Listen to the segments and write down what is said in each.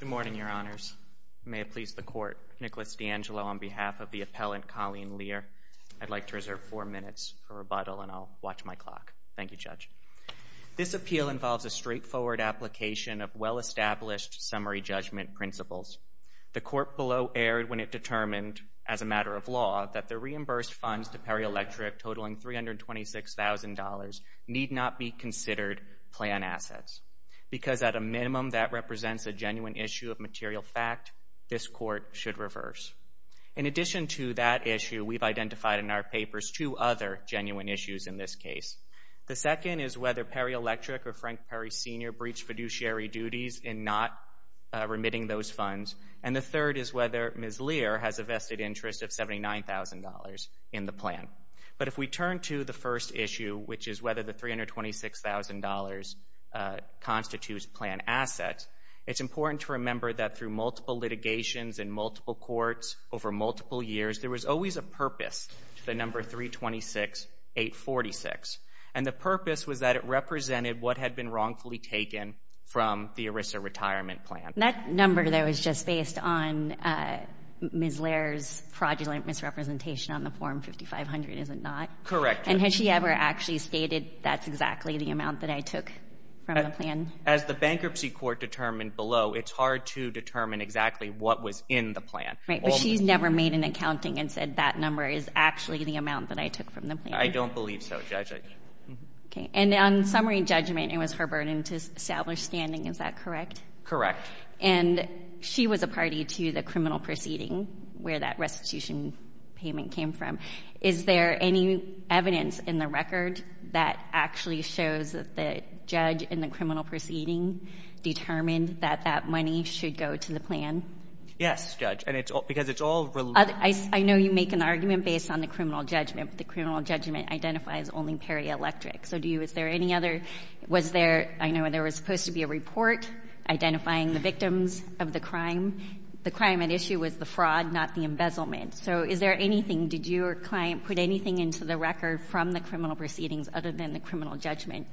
Good morning, Your Honors. May it please the Court, Nicholas D'Angelo on behalf of the appellant Colleen Lehr. I'd like to reserve four minutes for rebuttal and I'll watch my clock. Thank you, Judge. This appeal involves a straightforward application of well-established summary judgment principles. The Court below erred when it determined, as a matter of law, that the reimbursed funds to Perri Electric, totaling $326,000, need not be considered plan assets, because at a minimum that represents a genuine issue of material fact. This Court should reverse. In addition to that issue, we've identified in our papers two other genuine issues in this case. The second is whether Perri Electric or Frank Perri Sr. breached fiduciary duties in not remitting those funds. And the third is whether Ms. Lehr has a vested interest of $79,000 in the plan. But if we turn to the first issue, which is whether the $326,000 constitutes plan assets, it's important to remember that through multiple litigations in multiple courts over multiple years, there was always a purpose to the number 326-846. And the purpose was that it represented what had been wrongfully taken from the ERISA retirement plan. That number, though, is just based on Ms. Lehr's fraudulent misrepresentation on the form 5500, is it not? Correct. And has she ever actually stated, that's exactly the amount that I took from the plan? As the Bankruptcy Court determined below, it's hard to determine exactly what was in the plan. Right, but she's never made an accounting and said that number is actually the amount that I took from the plan. I don't believe so, Judge. Okay. And on summary judgment, it was her burden to establish standing, is that correct? Correct. And she was a party to the criminal proceeding where that restitution payment came from. Is there any evidence in the record that actually shows that the judge in the criminal proceeding determined that that money should go to the plan? Yes, Judge, and it's all because it's all related. I know you make an argument based on the criminal judgment, but the criminal judgment identifies only perielectric. So do you, is there any other, was there, I know there was supposed to be a report identifying the victims of the crime. The crime at issue was the fraud, not the embezzlement. So is there anything, did your client put anything into the record from the criminal proceedings other than the criminal judgment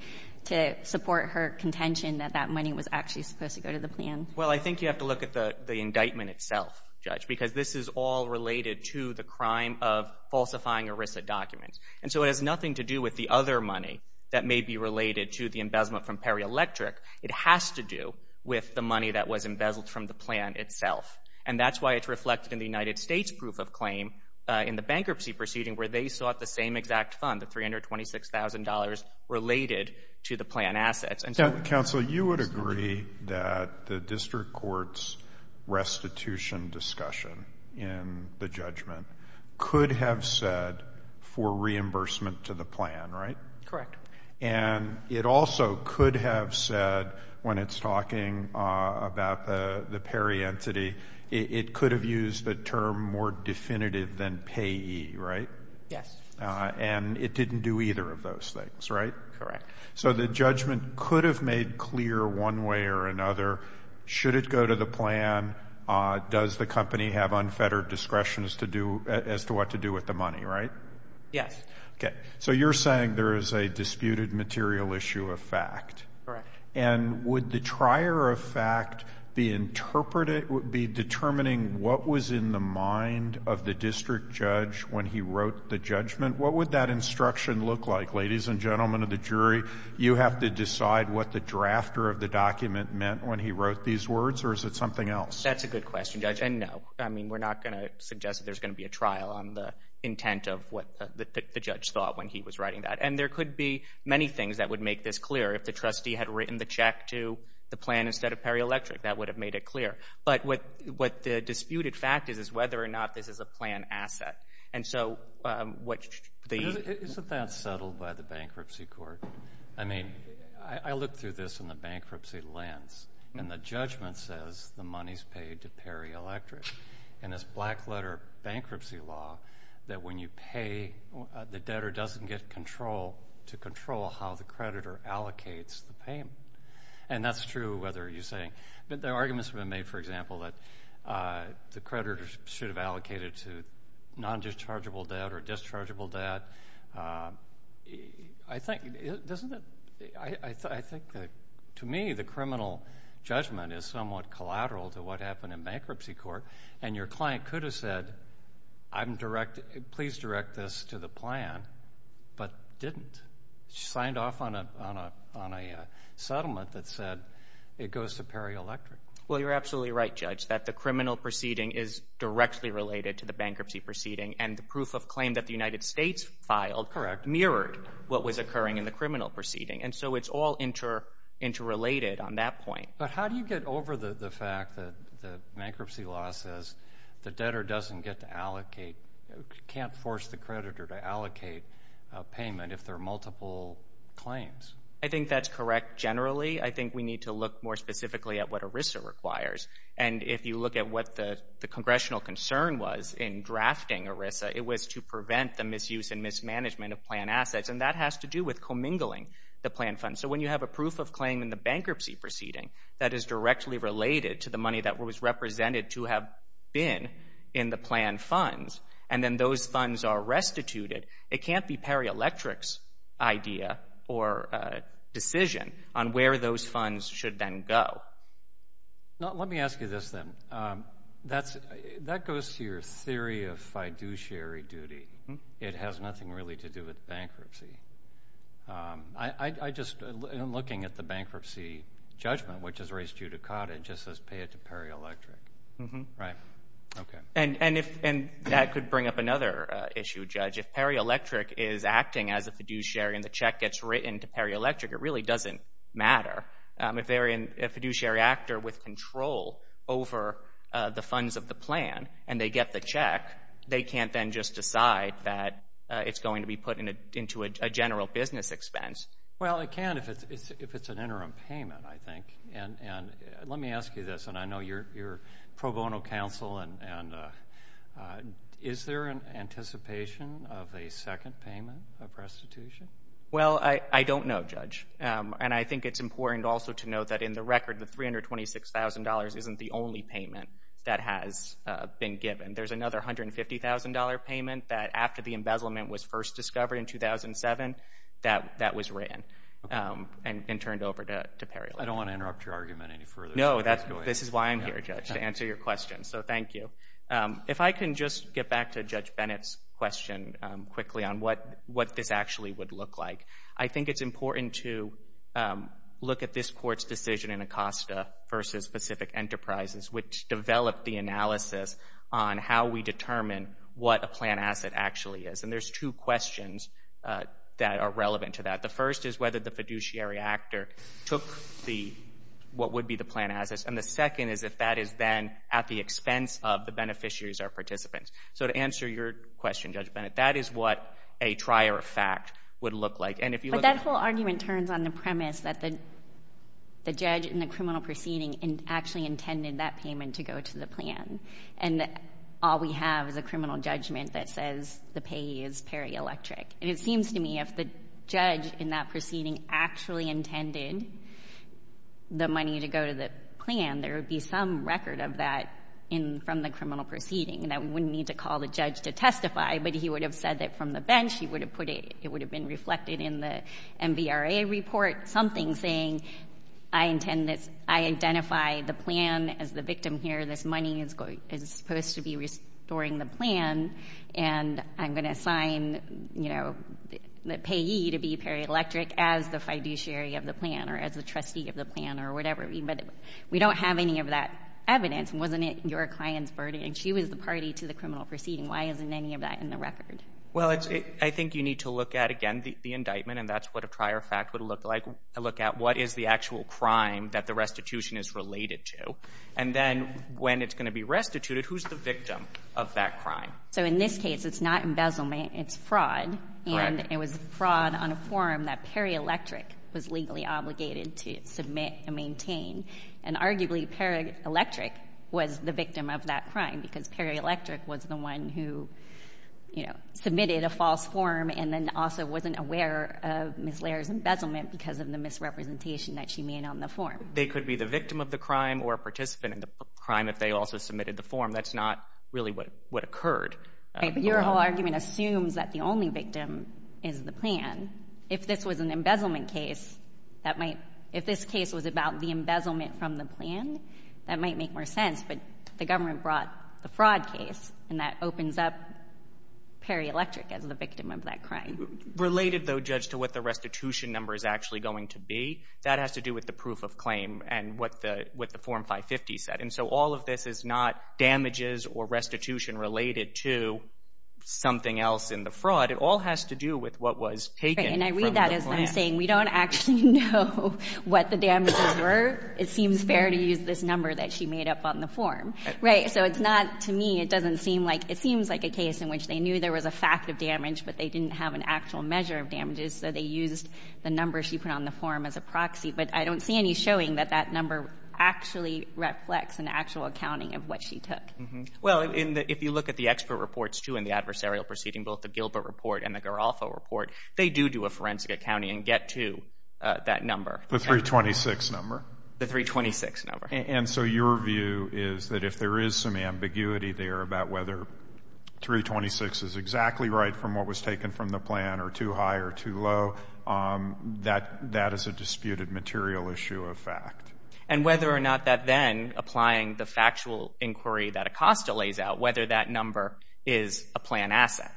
to support her contention that that money was actually supposed to go to the plan? Well, I think you have to look at the indictment itself, Judge, because this is all related to the crime of falsifying ERISA documents. And so it has nothing to do with the other money that may be related to the embezzlement from perielectric. It has to do with the money that was embezzled from the plan itself. And that's why it's reflected in the United States proof of claim in the bankruptcy proceeding where they sought the same exact fund, the $326,000 related to the plan assets. Counsel, you would agree that the district court's restitution discussion in the judgment could have said for reimbursement to the plan, right? Correct. And it also could have said when it's talking about the peri-entity, it could have used the term more definitive than payee, right? Yes. And it didn't do either of those things, right? Correct. So the judgment could have made clear one way or another, should it go to the plan, does the company have unfettered discretion as to what to do with the money, right? Yes. Okay. So you're saying there is a disputed material issue of fact. Correct. And would the trier of fact be interpreting, be determining what was in the mind of the district judge when he wrote the judgment? What would that instruction look like, ladies and gentlemen of the jury? You have to decide what the drafter of the document meant when he wrote these words, or is it something else? That's a good question, Judge, and no. I mean, we're not going to suggest that there's writing that. And there could be many things that would make this clear. If the trustee had written the check to the plan instead of Peri-Electric, that would have made it clear. But what the disputed fact is, is whether or not this is a plan asset. And so what the Isn't that settled by the bankruptcy court? I mean, I looked through this in the bankruptcy lens, and the judgment says the money's paid to Peri-Electric. And it's black-letter bankruptcy law that when you pay the debtor doesn't get control to control how the creditor allocates the payment. And that's true whether you're saying, but the arguments have been made, for example, that the creditor should have allocated to non-dischargeable debt or dischargeable debt. I think, doesn't it? I think that, to me, the criminal judgment is somewhat collateral to what happened in bankruptcy court. And your client could have said, please direct this to the plan, but didn't. She signed off on a settlement that said it goes to Peri-Electric. Well, you're absolutely right, Judge, that the criminal proceeding is directly related to the bankruptcy proceeding. And the proof of claim that the United States filed mirrored what was occurring in the criminal proceeding. And so it's all interrelated on that point. But how do you get over the fact that the bankruptcy law says the debtor doesn't get to allocate, can't force the creditor to allocate payment if there are multiple claims? I think that's correct generally. I think we need to look more specifically at what ERISA requires. And if you look at what the congressional concern was in drafting ERISA, it was to prevent the misuse and mismanagement of plan assets. And that has to do with commingling the plan funds. So when you have a proof of claim in the bankruptcy proceeding that is directly related to the money that was represented to have been in the plan funds, and then those funds are restituted, it can't be Peri-Electric's idea or decision on where those funds should then go. Let me ask you this then. That goes to your theory of fiduciary duty. It has nothing really to do with bankruptcy. I just, in looking at the bankruptcy judgment, which is raised judicata, it just says pay it to Peri-Electric. Right. Okay. And that could bring up another issue, Judge. If Peri-Electric is acting as a fiduciary and the check gets written to Peri-Electric, it really doesn't matter. If they're a fiduciary actor with control over the funds of the plan and they get the check, they can't then just decide that it's going to be put into a general business expense. Well, it can if it's an interim payment, I think. And let me ask you this, and I know you're pro bono counsel, and is there an anticipation of a second payment of restitution? Well, I don't know, Judge. And I think it's important also to note that in the record the $326,000 isn't the only payment that has been given. There's another $150,000 payment that after the embezzlement was first discovered in 2007, that was written and turned over to Peri-Electric. I don't want to interrupt your argument any further. No, this is why I'm here, Judge, to answer your question. So thank you. If I can just get back to Judge Bennett's question quickly on what this actually would look like. I think it's important to look at this Court's decision in Acosta versus Pacific Enterprises, which there's two questions that are relevant to that. The first is whether the fiduciary actor took what would be the plan assets. And the second is if that is then at the expense of the beneficiaries or participants. So to answer your question, Judge Bennett, that is what a trier of fact would look like. But that whole argument turns on the premise that the judge in the criminal proceeding actually intended that payment to go to the plan. And all we have is a criminal judgment that says the payee is Peri-Electric. And it seems to me if the judge in that proceeding actually intended the money to go to the plan, there would be some record of that from the criminal proceeding that we wouldn't need to call the judge to testify, but he would have said that from the bench, it would have been reflected in the MVRA report, something saying I intend this, I identify the plan as the victim here, this money is supposed to be restoring the plan, and I'm going to assign, you know, the payee to be Peri-Electric as the fiduciary of the plan or as the trustee of the plan or whatever. But we don't have any of that evidence. Wasn't it your client's verdict? She was the party to the criminal proceeding. Why isn't any of that in the record? Well, I think you need to look at, again, the indictment, and that's what a trier of fact would look like. Look at what is the actual crime that the restitution is related to, and then when it's going to be restituted, who's the victim of that crime? So in this case, it's not embezzlement, it's fraud. Correct. And it was fraud on a form that Peri-Electric was legally obligated to submit and maintain. And arguably, Peri-Electric was the victim of that crime, because Peri-Electric was the one who, you know, submitted a false form and then also wasn't aware of Ms. Laird's embezzlement because of the misrepresentation that she made on the form. They could be the victim of the crime or a participant in the crime if they also submitted the form. That's not really what occurred. Right. But your whole argument assumes that the only victim is the plan. If this was an embezzlement case, that might — if this case was about the embezzlement from the plan, that might make more sense. But the government brought the fraud case, and that opens up Peri-Electric as the victim of that crime. Related, though, Judge, to what the restitution number is actually going to be, that has to do with the proof of claim and what the — what the Form 550 said. And so all of this is not damages or restitution related to something else in the fraud. It all has to do with what was taken from the plan. And I read that as I'm saying, we don't actually know what the damages were. It seems fair to use this number that she made up on the form. Right. So it's not — to me, it doesn't seem like — it seems like a case in which they knew there was a fact of damage, but they didn't have an actual measure of damages. So they used the number she put on the form as a proxy. But I don't see any showing that that number actually reflects an actual accounting of what she took. Well, in the — if you look at the expert reports, too, and the adversarial proceeding, both the Gilbert report and the Garolfo report, they do do a forensic accounting and get to that number. The 326 number? The 326 number. And so your view is that if there is some ambiguity there about whether 326 is exactly right from what was taken from the plan or too high or too low, that is a disputed material issue of fact. And whether or not that then, applying the factual inquiry that Acosta lays out, whether that number is a plan asset.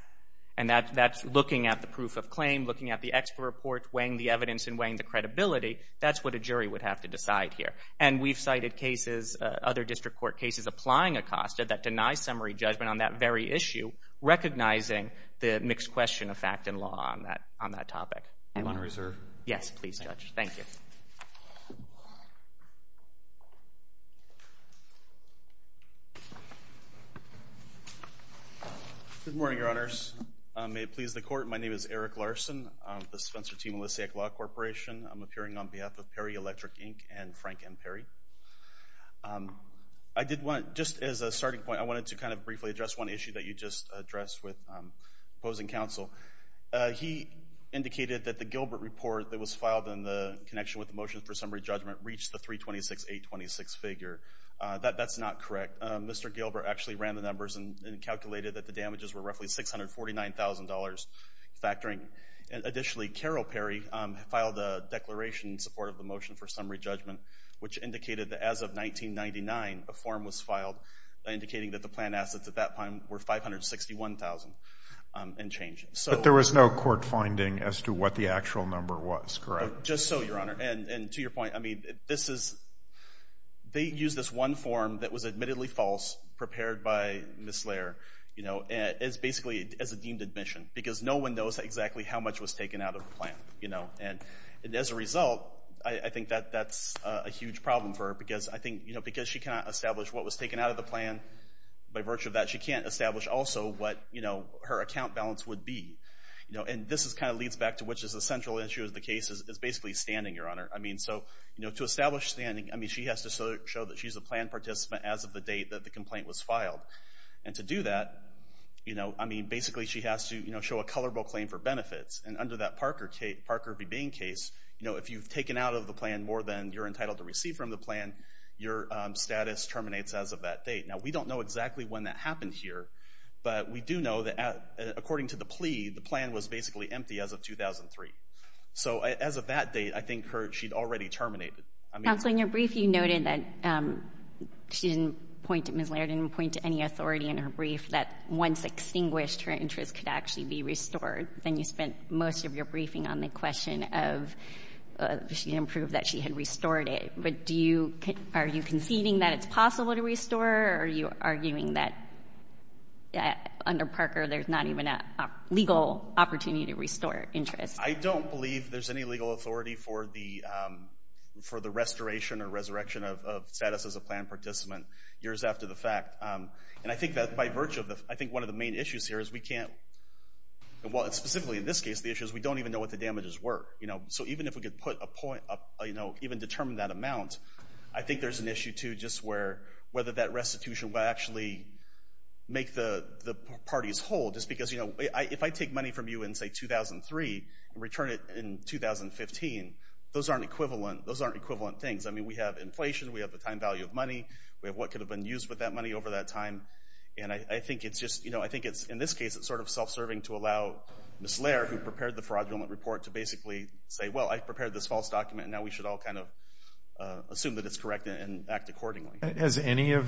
And that's looking at the proof of claim, looking at the expert report, weighing the evidence and weighing the credibility, that's what a jury would have to decide here. And we've cited cases, other district court cases, applying Acosta that deny summary judgment on that very issue, recognizing the mixed question of fact and law on that topic. You want to reserve? Yes, please, Judge. Thank you. Good morning, Your Honors. May it please the Court. My name is Eric Larson. I'm with the Spencer T. Melissiak Law Corporation. I'm appearing on behalf of PERI Electric, Inc. and Frank M. PERI. I did want, just as a starting point, I wanted to kind of briefly address one issue that you just addressed with opposing counsel. He indicated that the Gilbert report that was filed in the connection with the motion for summary judgment reached the 326-826 figure. That's not correct. Mr. Gilbert actually ran the numbers and calculated that the damages were roughly $649,000 factoring. Additionally, Carol PERI filed a declaration in support of the motion for summary judgment, which indicated that as of 1999, a form was filed indicating that the planned assets at that time were $561,000 and changing. There was no court finding as to what the actual number was, correct? Just so, Your Honor. And to your point, I mean, this is, they used this one form that was admittedly false, prepared by Ms. Slayer, you know, as basically as a deemed admission, because no one knows exactly how much was taken out of the plan, you know. And as a result, I think that that's a huge problem for her, because I think, you know, because she cannot establish what was taken out of the plan, by virtue of that, she can't establish also what, you know, her account balance would be, you know. And this is kind of leads back to which is a central issue of the case is basically standing, Your Honor. I mean, so, you know, to establish standing, I mean, she has to show that she's a planned participant as of the date that the complaint was filed. And to do that, you know, I mean, basically she has to, you know, show a colorable claim for benefits. And under that Parker B. Bain case, you know, if you've taken out of the plan more than you're entitled to receive from the plan, your status terminates as of that date. Now, we don't know exactly when that happened here, but we do know that according to the plea, the plan was basically empty as of 2003. So as of that date, I think she'd already terminated. Counsel, in your brief, you noted that she didn't point to, Ms. Slayer didn't point to any authority in her brief that once extinguished, her interest could actually be restored. Then you spent most of your briefing on the question of she didn't prove that she had restored it. But do you, are you conceding that it's possible to restore, or are you arguing that under Parker there's not even a legal opportunity to restore interest? I don't believe there's any legal authority for the restoration or resurrection of status as a planned participant years after the fact. And I think that by virtue of the, I think one of the main issues here is we can't, well specifically in this case, the issue is we don't even know what the damages were. You know, so even if we could put a point up, you know, even determine that amount, I think there's an issue too just where whether that restitution will actually make the parties whole just because, you know, if I take money from you in say 2003 and return it in 2015, those aren't equivalent, those aren't equivalent things. I mean, we have inflation, we have the time value of money, we have what could have been used with that money over that time. And I think it's just, you know, I think it's, in this case, it's sort of self-serving to allow Ms. Laird, who prepared the fraudulent report, to basically say, well, I prepared this false document and now we should all kind of assume that it's correct and act accordingly. Has any of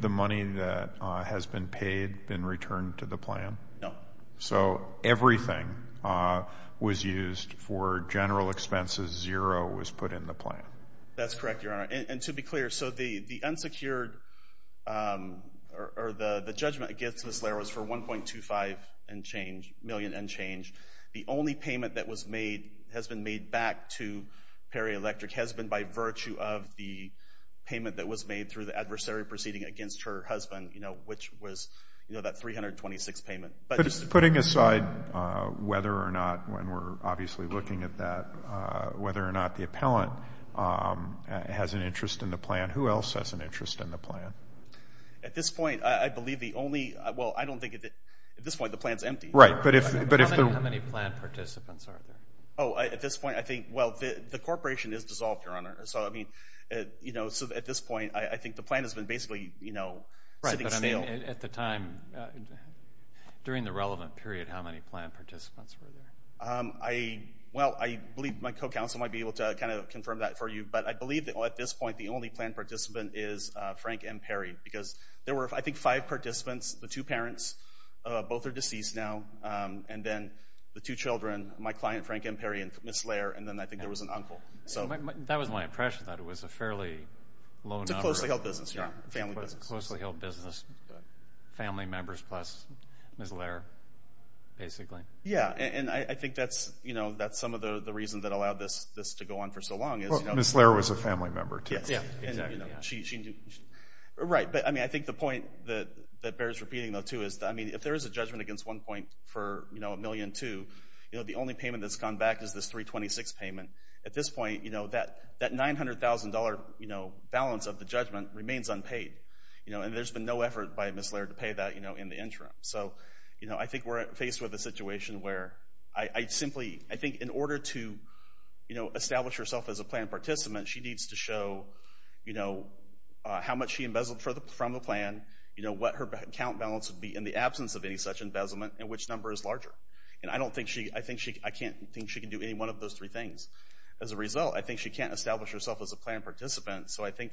the money that has been paid been returned to the plan? No. So everything was used for general expenses, zero was put in the plan? That's correct, Your Honor. And to be clear, so the unsecured or the judgment against Ms. Laird was for $1.25 million and change. The only payment that has been made back to Perry Electric has been by virtue of the payment that was made through the adversary proceeding against her husband, you know, which was, you know, that $326 payment. Putting aside whether or not, when we're obviously looking at that, whether or not the appellant has an interest in the plan, who else has an interest in the plan? At this point, I believe the only, well, I don't think, at this point the plan's empty. Right, but if... How many plan participants are there? Oh, at this point, I think, well, the corporation is dissolved, Your Honor, so I mean, you know, so at this point, I think the plan has been basically, you know, sitting stale. Right, but I mean, at the time, during the relevant period, how many plan participants were there? I, well, I believe my co-counsel might be able to kind of confirm that for you, but I believe that at this point, the only plan participant is Frank M. Perry because there were, I think, five participants, the two parents, both are deceased now, and then the two children, my client, Frank M. Perry and Ms. Lair, and then I think there was an uncle, so... That was my impression, that it was a fairly low number. It's a closely held business, Your Honor, a family business. Closely held business, family members plus Ms. Lair, basically. Yeah, and I think that's, you know, that's some of the reason that allowed this to go on for so long is... Well, Ms. Lair was a family member, too. Yeah, exactly. And, you know, she... Right, but I mean, I think the point that bears repeating, though, too, is that, I mean, if there is a judgment against one point for, you know, $1.2 million, you know, the only payment that's gone back is this $326,000 payment. At this point, you know, that $900,000, you know, balance of the judgment remains unpaid, you know, and there's been no effort by Ms. Lair to pay that, you know, in the interim, So, you know, I think we're faced with a situation where I simply... I think in order to, you know, establish herself as a plan participant, she needs to show, you know, how much she embezzled from the plan, you know, what her account balance would be in the absence of any such embezzlement, and which number is larger. And I don't think she... I think she... I can't think she can do any one of those three things. As a result, I think she can't establish herself as a plan participant, so I think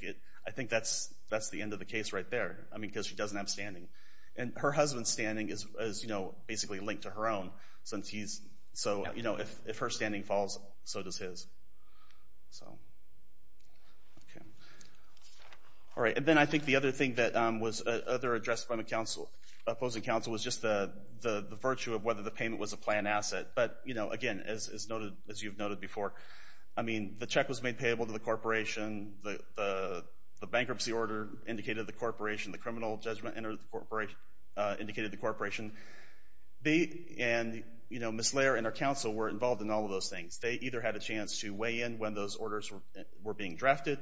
that's the end of the case right there. I mean, because she doesn't have standing. And her husband's standing is, you know, basically linked to her own, since he's... So, you know, if her standing falls, so does his. So... Okay. All right. And then I think the other thing that was other addressed by the opposing counsel was just the virtue of whether the payment was a plan asset, but, you know, again, as you've noted before, I mean, the check was made payable to the corporation, the bankruptcy order indicated the corporation, the criminal judgment indicated the corporation, and, you know, Ms. Lair and our counsel were involved in all of those things. They either had a chance to weigh in when those orders were being drafted,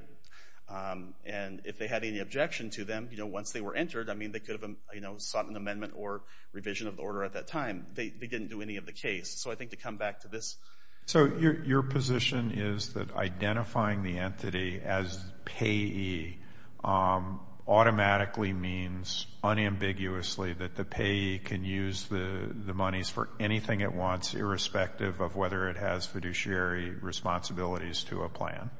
and if they had any objection to them, you know, once they were entered, I mean, they could have, you know, sought an amendment or revision of the order at that time. They didn't do any of the case. So I think to come back to this... the entity as payee automatically means unambiguously that the payee can use the monies for anything it wants, irrespective of whether it has fiduciary responsibilities to a plan.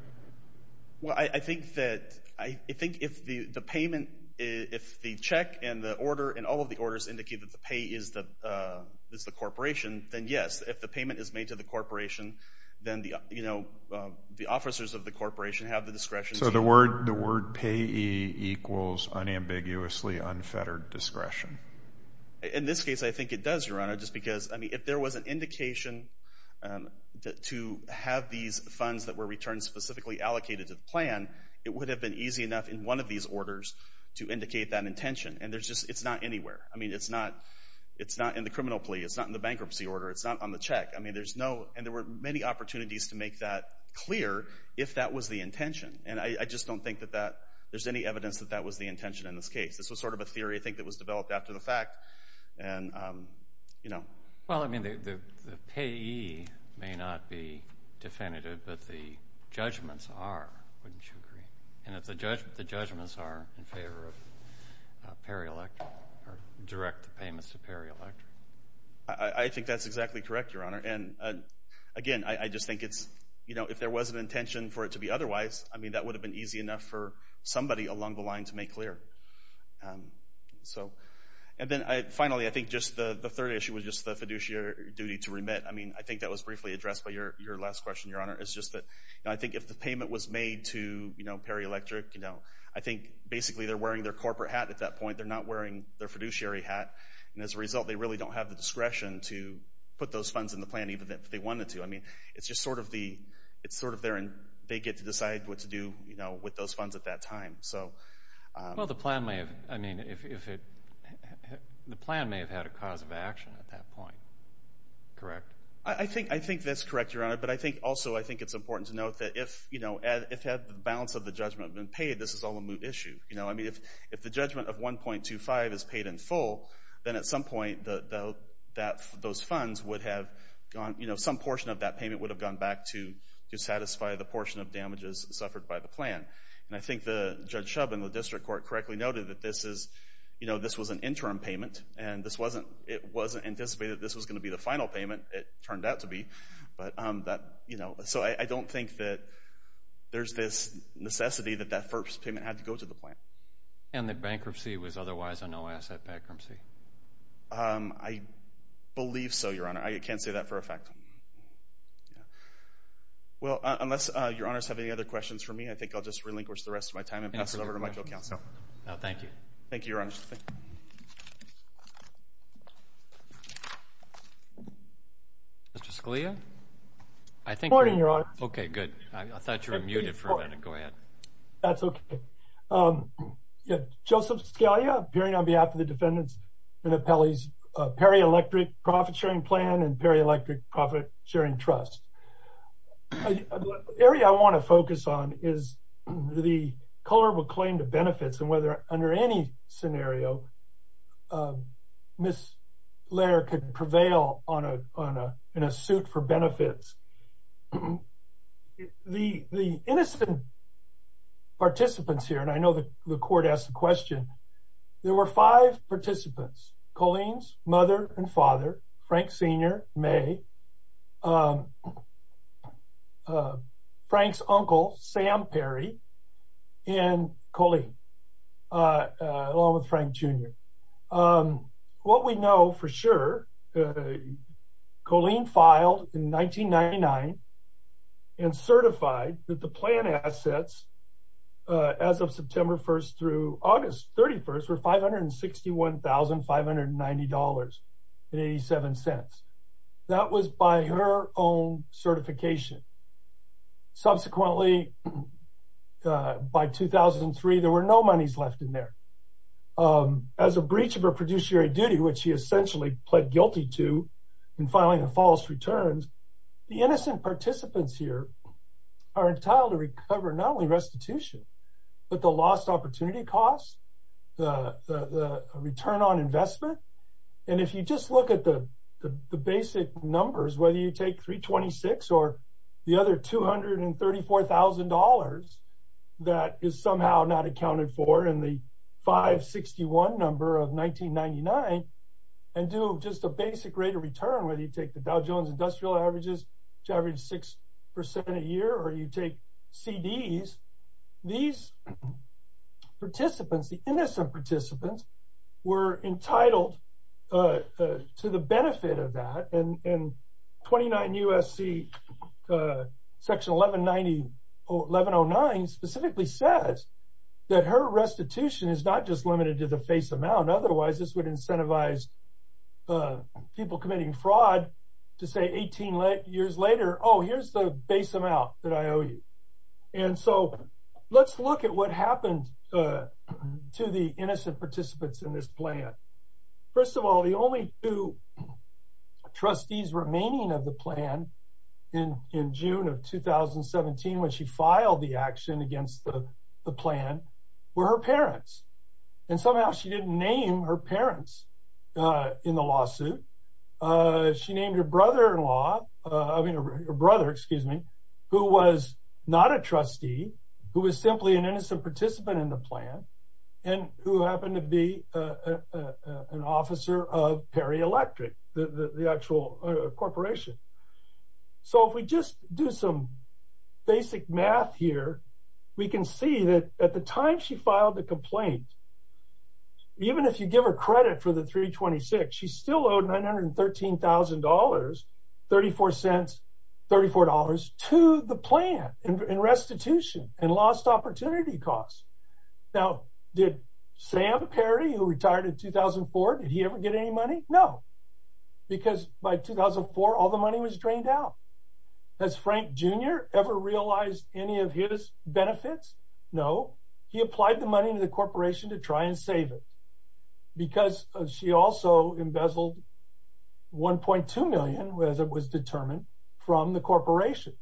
Well, I think that... I think if the payment... If the check and the order and all of the orders indicate that the payee is the corporation, then yes, if the payment is made to the corporation, then the, you know, the officers of the corporation have the discretion to... So the word payee equals unambiguously unfettered discretion. In this case, I think it does, Your Honor, just because, I mean, if there was an indication to have these funds that were returned specifically allocated to the plan, it would have been easy enough in one of these orders to indicate that intention, and there's just... It's not anywhere. I mean, it's not in the criminal plea. It's not in the bankruptcy order. It's not on the check. I mean, there's no... And there were many opportunities to make that clear if that was the intention, and I just don't think that that... There's any evidence that that was the intention in this case. This was sort of a theory, I think, that was developed after the fact, and, you know... Well, I mean, the payee may not be definitive, but the judgments are, wouldn't you agree? And if the judgments are in favor of peri-election, or direct payments to peri-election? I think that's exactly correct, Your Honor, and, again, I just think it's... You know, if there was an intention for it to be otherwise, I mean, that would have been easy enough for somebody along the line to make clear. And then, finally, I think just the third issue was just the fiduciary duty to remit. I mean, I think that was briefly addressed by your last question, Your Honor. It's just that, you know, I think if the payment was made to, you know, peri-electric, you know, I think basically they're wearing their corporate hat at that point. They're not wearing their fiduciary hat, and as a result, they really don't have the discretion to put those funds in the plan, even if they wanted to. I mean, it's just sort of the... It's sort of their... They get to decide what to do, you know, with those funds at that time. So... Well, the plan may have... I mean, if it... The plan may have had a cause of action at that point, correct? I think that's correct, Your Honor. But I think, also, I think it's important to note that if, you know, if the balance of the judgment had been paid, this is all a moot issue. You know, I mean, if the judgment of 1.25 is paid in full, then at some point, those funds would have gone... You know, some portion of that payment would have gone back to satisfy the portion of damages suffered by the plan. And I think Judge Shub and the District Court correctly noted that this is... You know, this was an interim payment, and this wasn't... It wasn't anticipated that this was going to be the final payment. It turned out to be. But that, you know... So I don't think that there's this necessity that that first payment had to go to the plan. And that bankruptcy was otherwise a no-asset bankruptcy? I believe so, Your Honor. I can't say that for a fact. Yeah. Well, unless Your Honors have any other questions for me, I think I'll just relinquish the rest of my time and pass it over to Michael Kouncil. No, thank you. Thank you, Your Honors. Mr. Scalia? Good morning, Your Honor. Okay, good. I thought you were muted for a minute. Go ahead. That's okay. Joseph Scalia, appearing on behalf of the defendants in Appellee's perielectric profit-sharing plan and perielectric profit-sharing trust. The area I want to focus on is the culpable claim to benefits and whether, under any scenario, Ms. Laird could prevail in a suit for benefits. The innocent participants here, and I know that the court asked the question, there were five participants, Colleen's mother and father, Frank Sr., May, Frank's uncle, Sam Perry, and Colleen, along with Frank Jr. What we know for sure, Colleen filed in 1999 and certified that the plan assets, as of September 1st through August 31st, were $561,590.87. That was by her own certification. Subsequently, by 2003, there were no monies left in there. As a breach of her produciary duty, which she essentially pled guilty to in filing a false return, the innocent participants here are entitled to recover not only restitution, but the lost opportunity cost, the return on investment, and if you just look at the other $234,000 that is somehow not accounted for in the 561 number of 1999, and do just a basic rate of return, whether you take the Dow Jones Industrial Averages, which averaged 6% a year, or you take CDs, these participants, the innocent participants, were entitled to the benefit of that, and 29 U.S.C. section 1109 specifically says that her restitution is not just limited to the face amount, otherwise this would incentivize people committing fraud to say 18 years later, oh, here's the base amount that I owe you. And so let's look at what happened to the innocent participants in this plan. First of all, the only two trustees remaining of the plan in June of 2017 when she filed the action against the plan were her parents, and somehow she didn't name her parents in the lawsuit. She named her brother-in-law, I mean her brother, excuse me, who was not a trustee, who was an officer of Perry Electric, the actual corporation. So if we just do some basic math here, we can see that at the time she filed the complaint, even if you give her credit for the 326, she still owed $913,000, 34 cents, $34, to the plan in restitution and lost opportunity costs. Now, did Sam Perry, who retired in 2004, did he ever get any money? No, because by 2004, all the money was drained out. Has Frank Jr. ever realized any of his benefits? No. He applied the money to the corporation to try and save it because she also embezzled $1.2 million, as it was determined, from the corporation.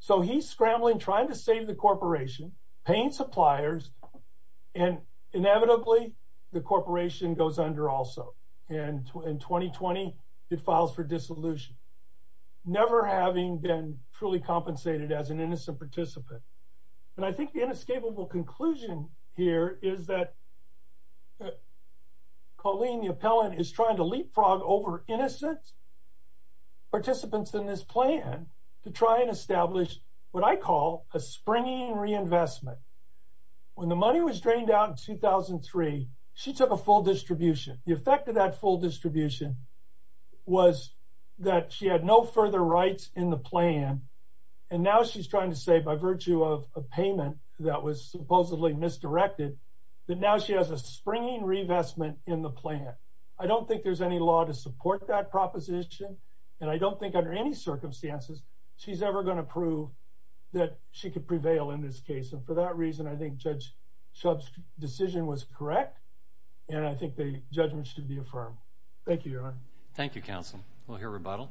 So he's scrambling, trying to save the corporation, paying suppliers, and inevitably, the corporation goes under also. And in 2020, it files for dissolution, never having been truly compensated as an innocent participant. And I think the inescapable conclusion here is that Colleen, the appellant, is trying to leapfrog over innocent participants in this plan to try and establish what I call a springing reinvestment. When the money was drained out in 2003, she took a full distribution. The effect of that full distribution was that she had no further rights in the plan, and now she's trying to say, by virtue of a payment that was supposedly misdirected, that now she has a springing reinvestment in the plan. I don't think there's any law to support that proposition, and I don't think under any circumstances she's ever going to prove that she could prevail in this case. And for that reason, I think Judge Shub's decision was correct, and I think the judgment should be affirmed. Thank you, Your Honor. Thank you, Counsel. We'll hear rebuttal.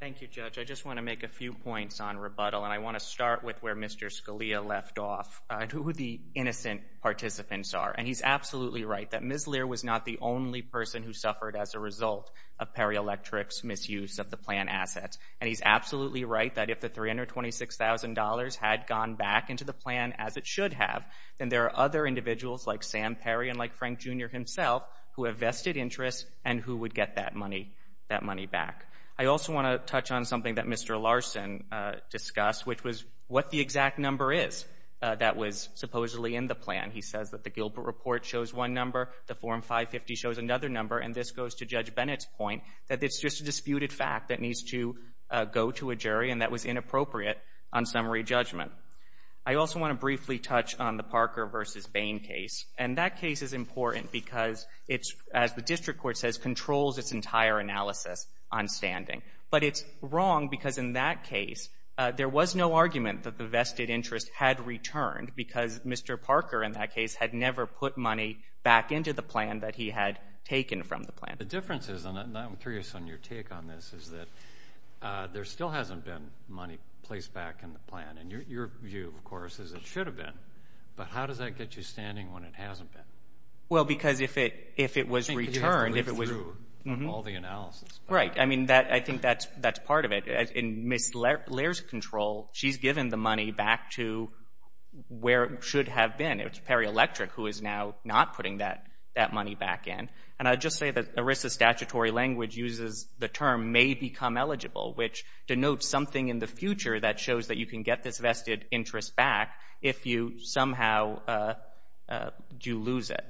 Thank you, Judge. I just want to make a few points on rebuttal, and I want to start with where Mr. Scalia left off and who the innocent participants are. And he's absolutely right that Ms. Lear was not the only person who suffered as a result of Perry Electric's misuse of the plan assets. And he's absolutely right that if the $326,000 had gone back into the plan as it should have, then there are other individuals like Sam Perry and like Frank Jr. himself who have vested interests and who would get that money back. I also want to touch on something that Mr. Larson discussed, which was what the exact number is that was supposedly in the plan. He says that the Gilbert Report shows one number, the Form 550 shows another number, and this goes to Judge Bennett's point that it's just a disputed fact that needs to go to a jury and that was inappropriate on summary judgment. I also want to briefly touch on the Parker v. Bain case. And that case is important because it's, as the district court says, controls its entire analysis on standing. But it's wrong because in that case, there was no argument that the vested interest had returned because Mr. Parker, in that case, had never put money back into the plan that he had taken from the plan. The difference is, and I'm curious on your take on this, is that there still hasn't been money placed back in the plan. And your view, of course, is it should have been. But how does that get you standing when it hasn't been? Well, because if it was returned, if it was— I think you have to live through all the analysis. Right. I think that's part of it. In Ms. Lair's control, she's given the money back to where it should have been. It was Perry Electric who is now not putting that money back in. And I'd just say that ERISA's statutory language uses the term may become eligible, which denotes something in the future that shows that you can get this vested interest back if you somehow do lose it.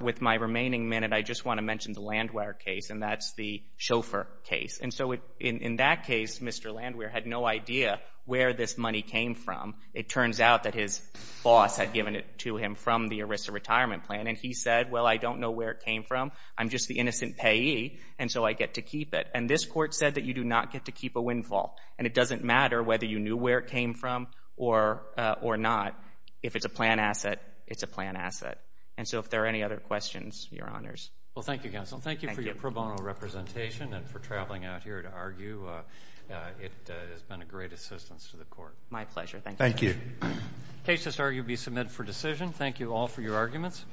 With my remaining minute, I just want to mention the Landwehr case, and that's the Dover case. And so in that case, Mr. Landwehr had no idea where this money came from. It turns out that his boss had given it to him from the ERISA retirement plan. And he said, well, I don't know where it came from. I'm just the innocent payee, and so I get to keep it. And this court said that you do not get to keep a windfall. And it doesn't matter whether you knew where it came from or not. If it's a plan asset, it's a plan asset. Well, thank you, counsel. Thank you for your pro bono representation and for traveling out here to argue. It has been a great assistance to the court. My pleasure. Thank you. Thank you. The case has argued to be submitted for decision. Thank you all for your arguments.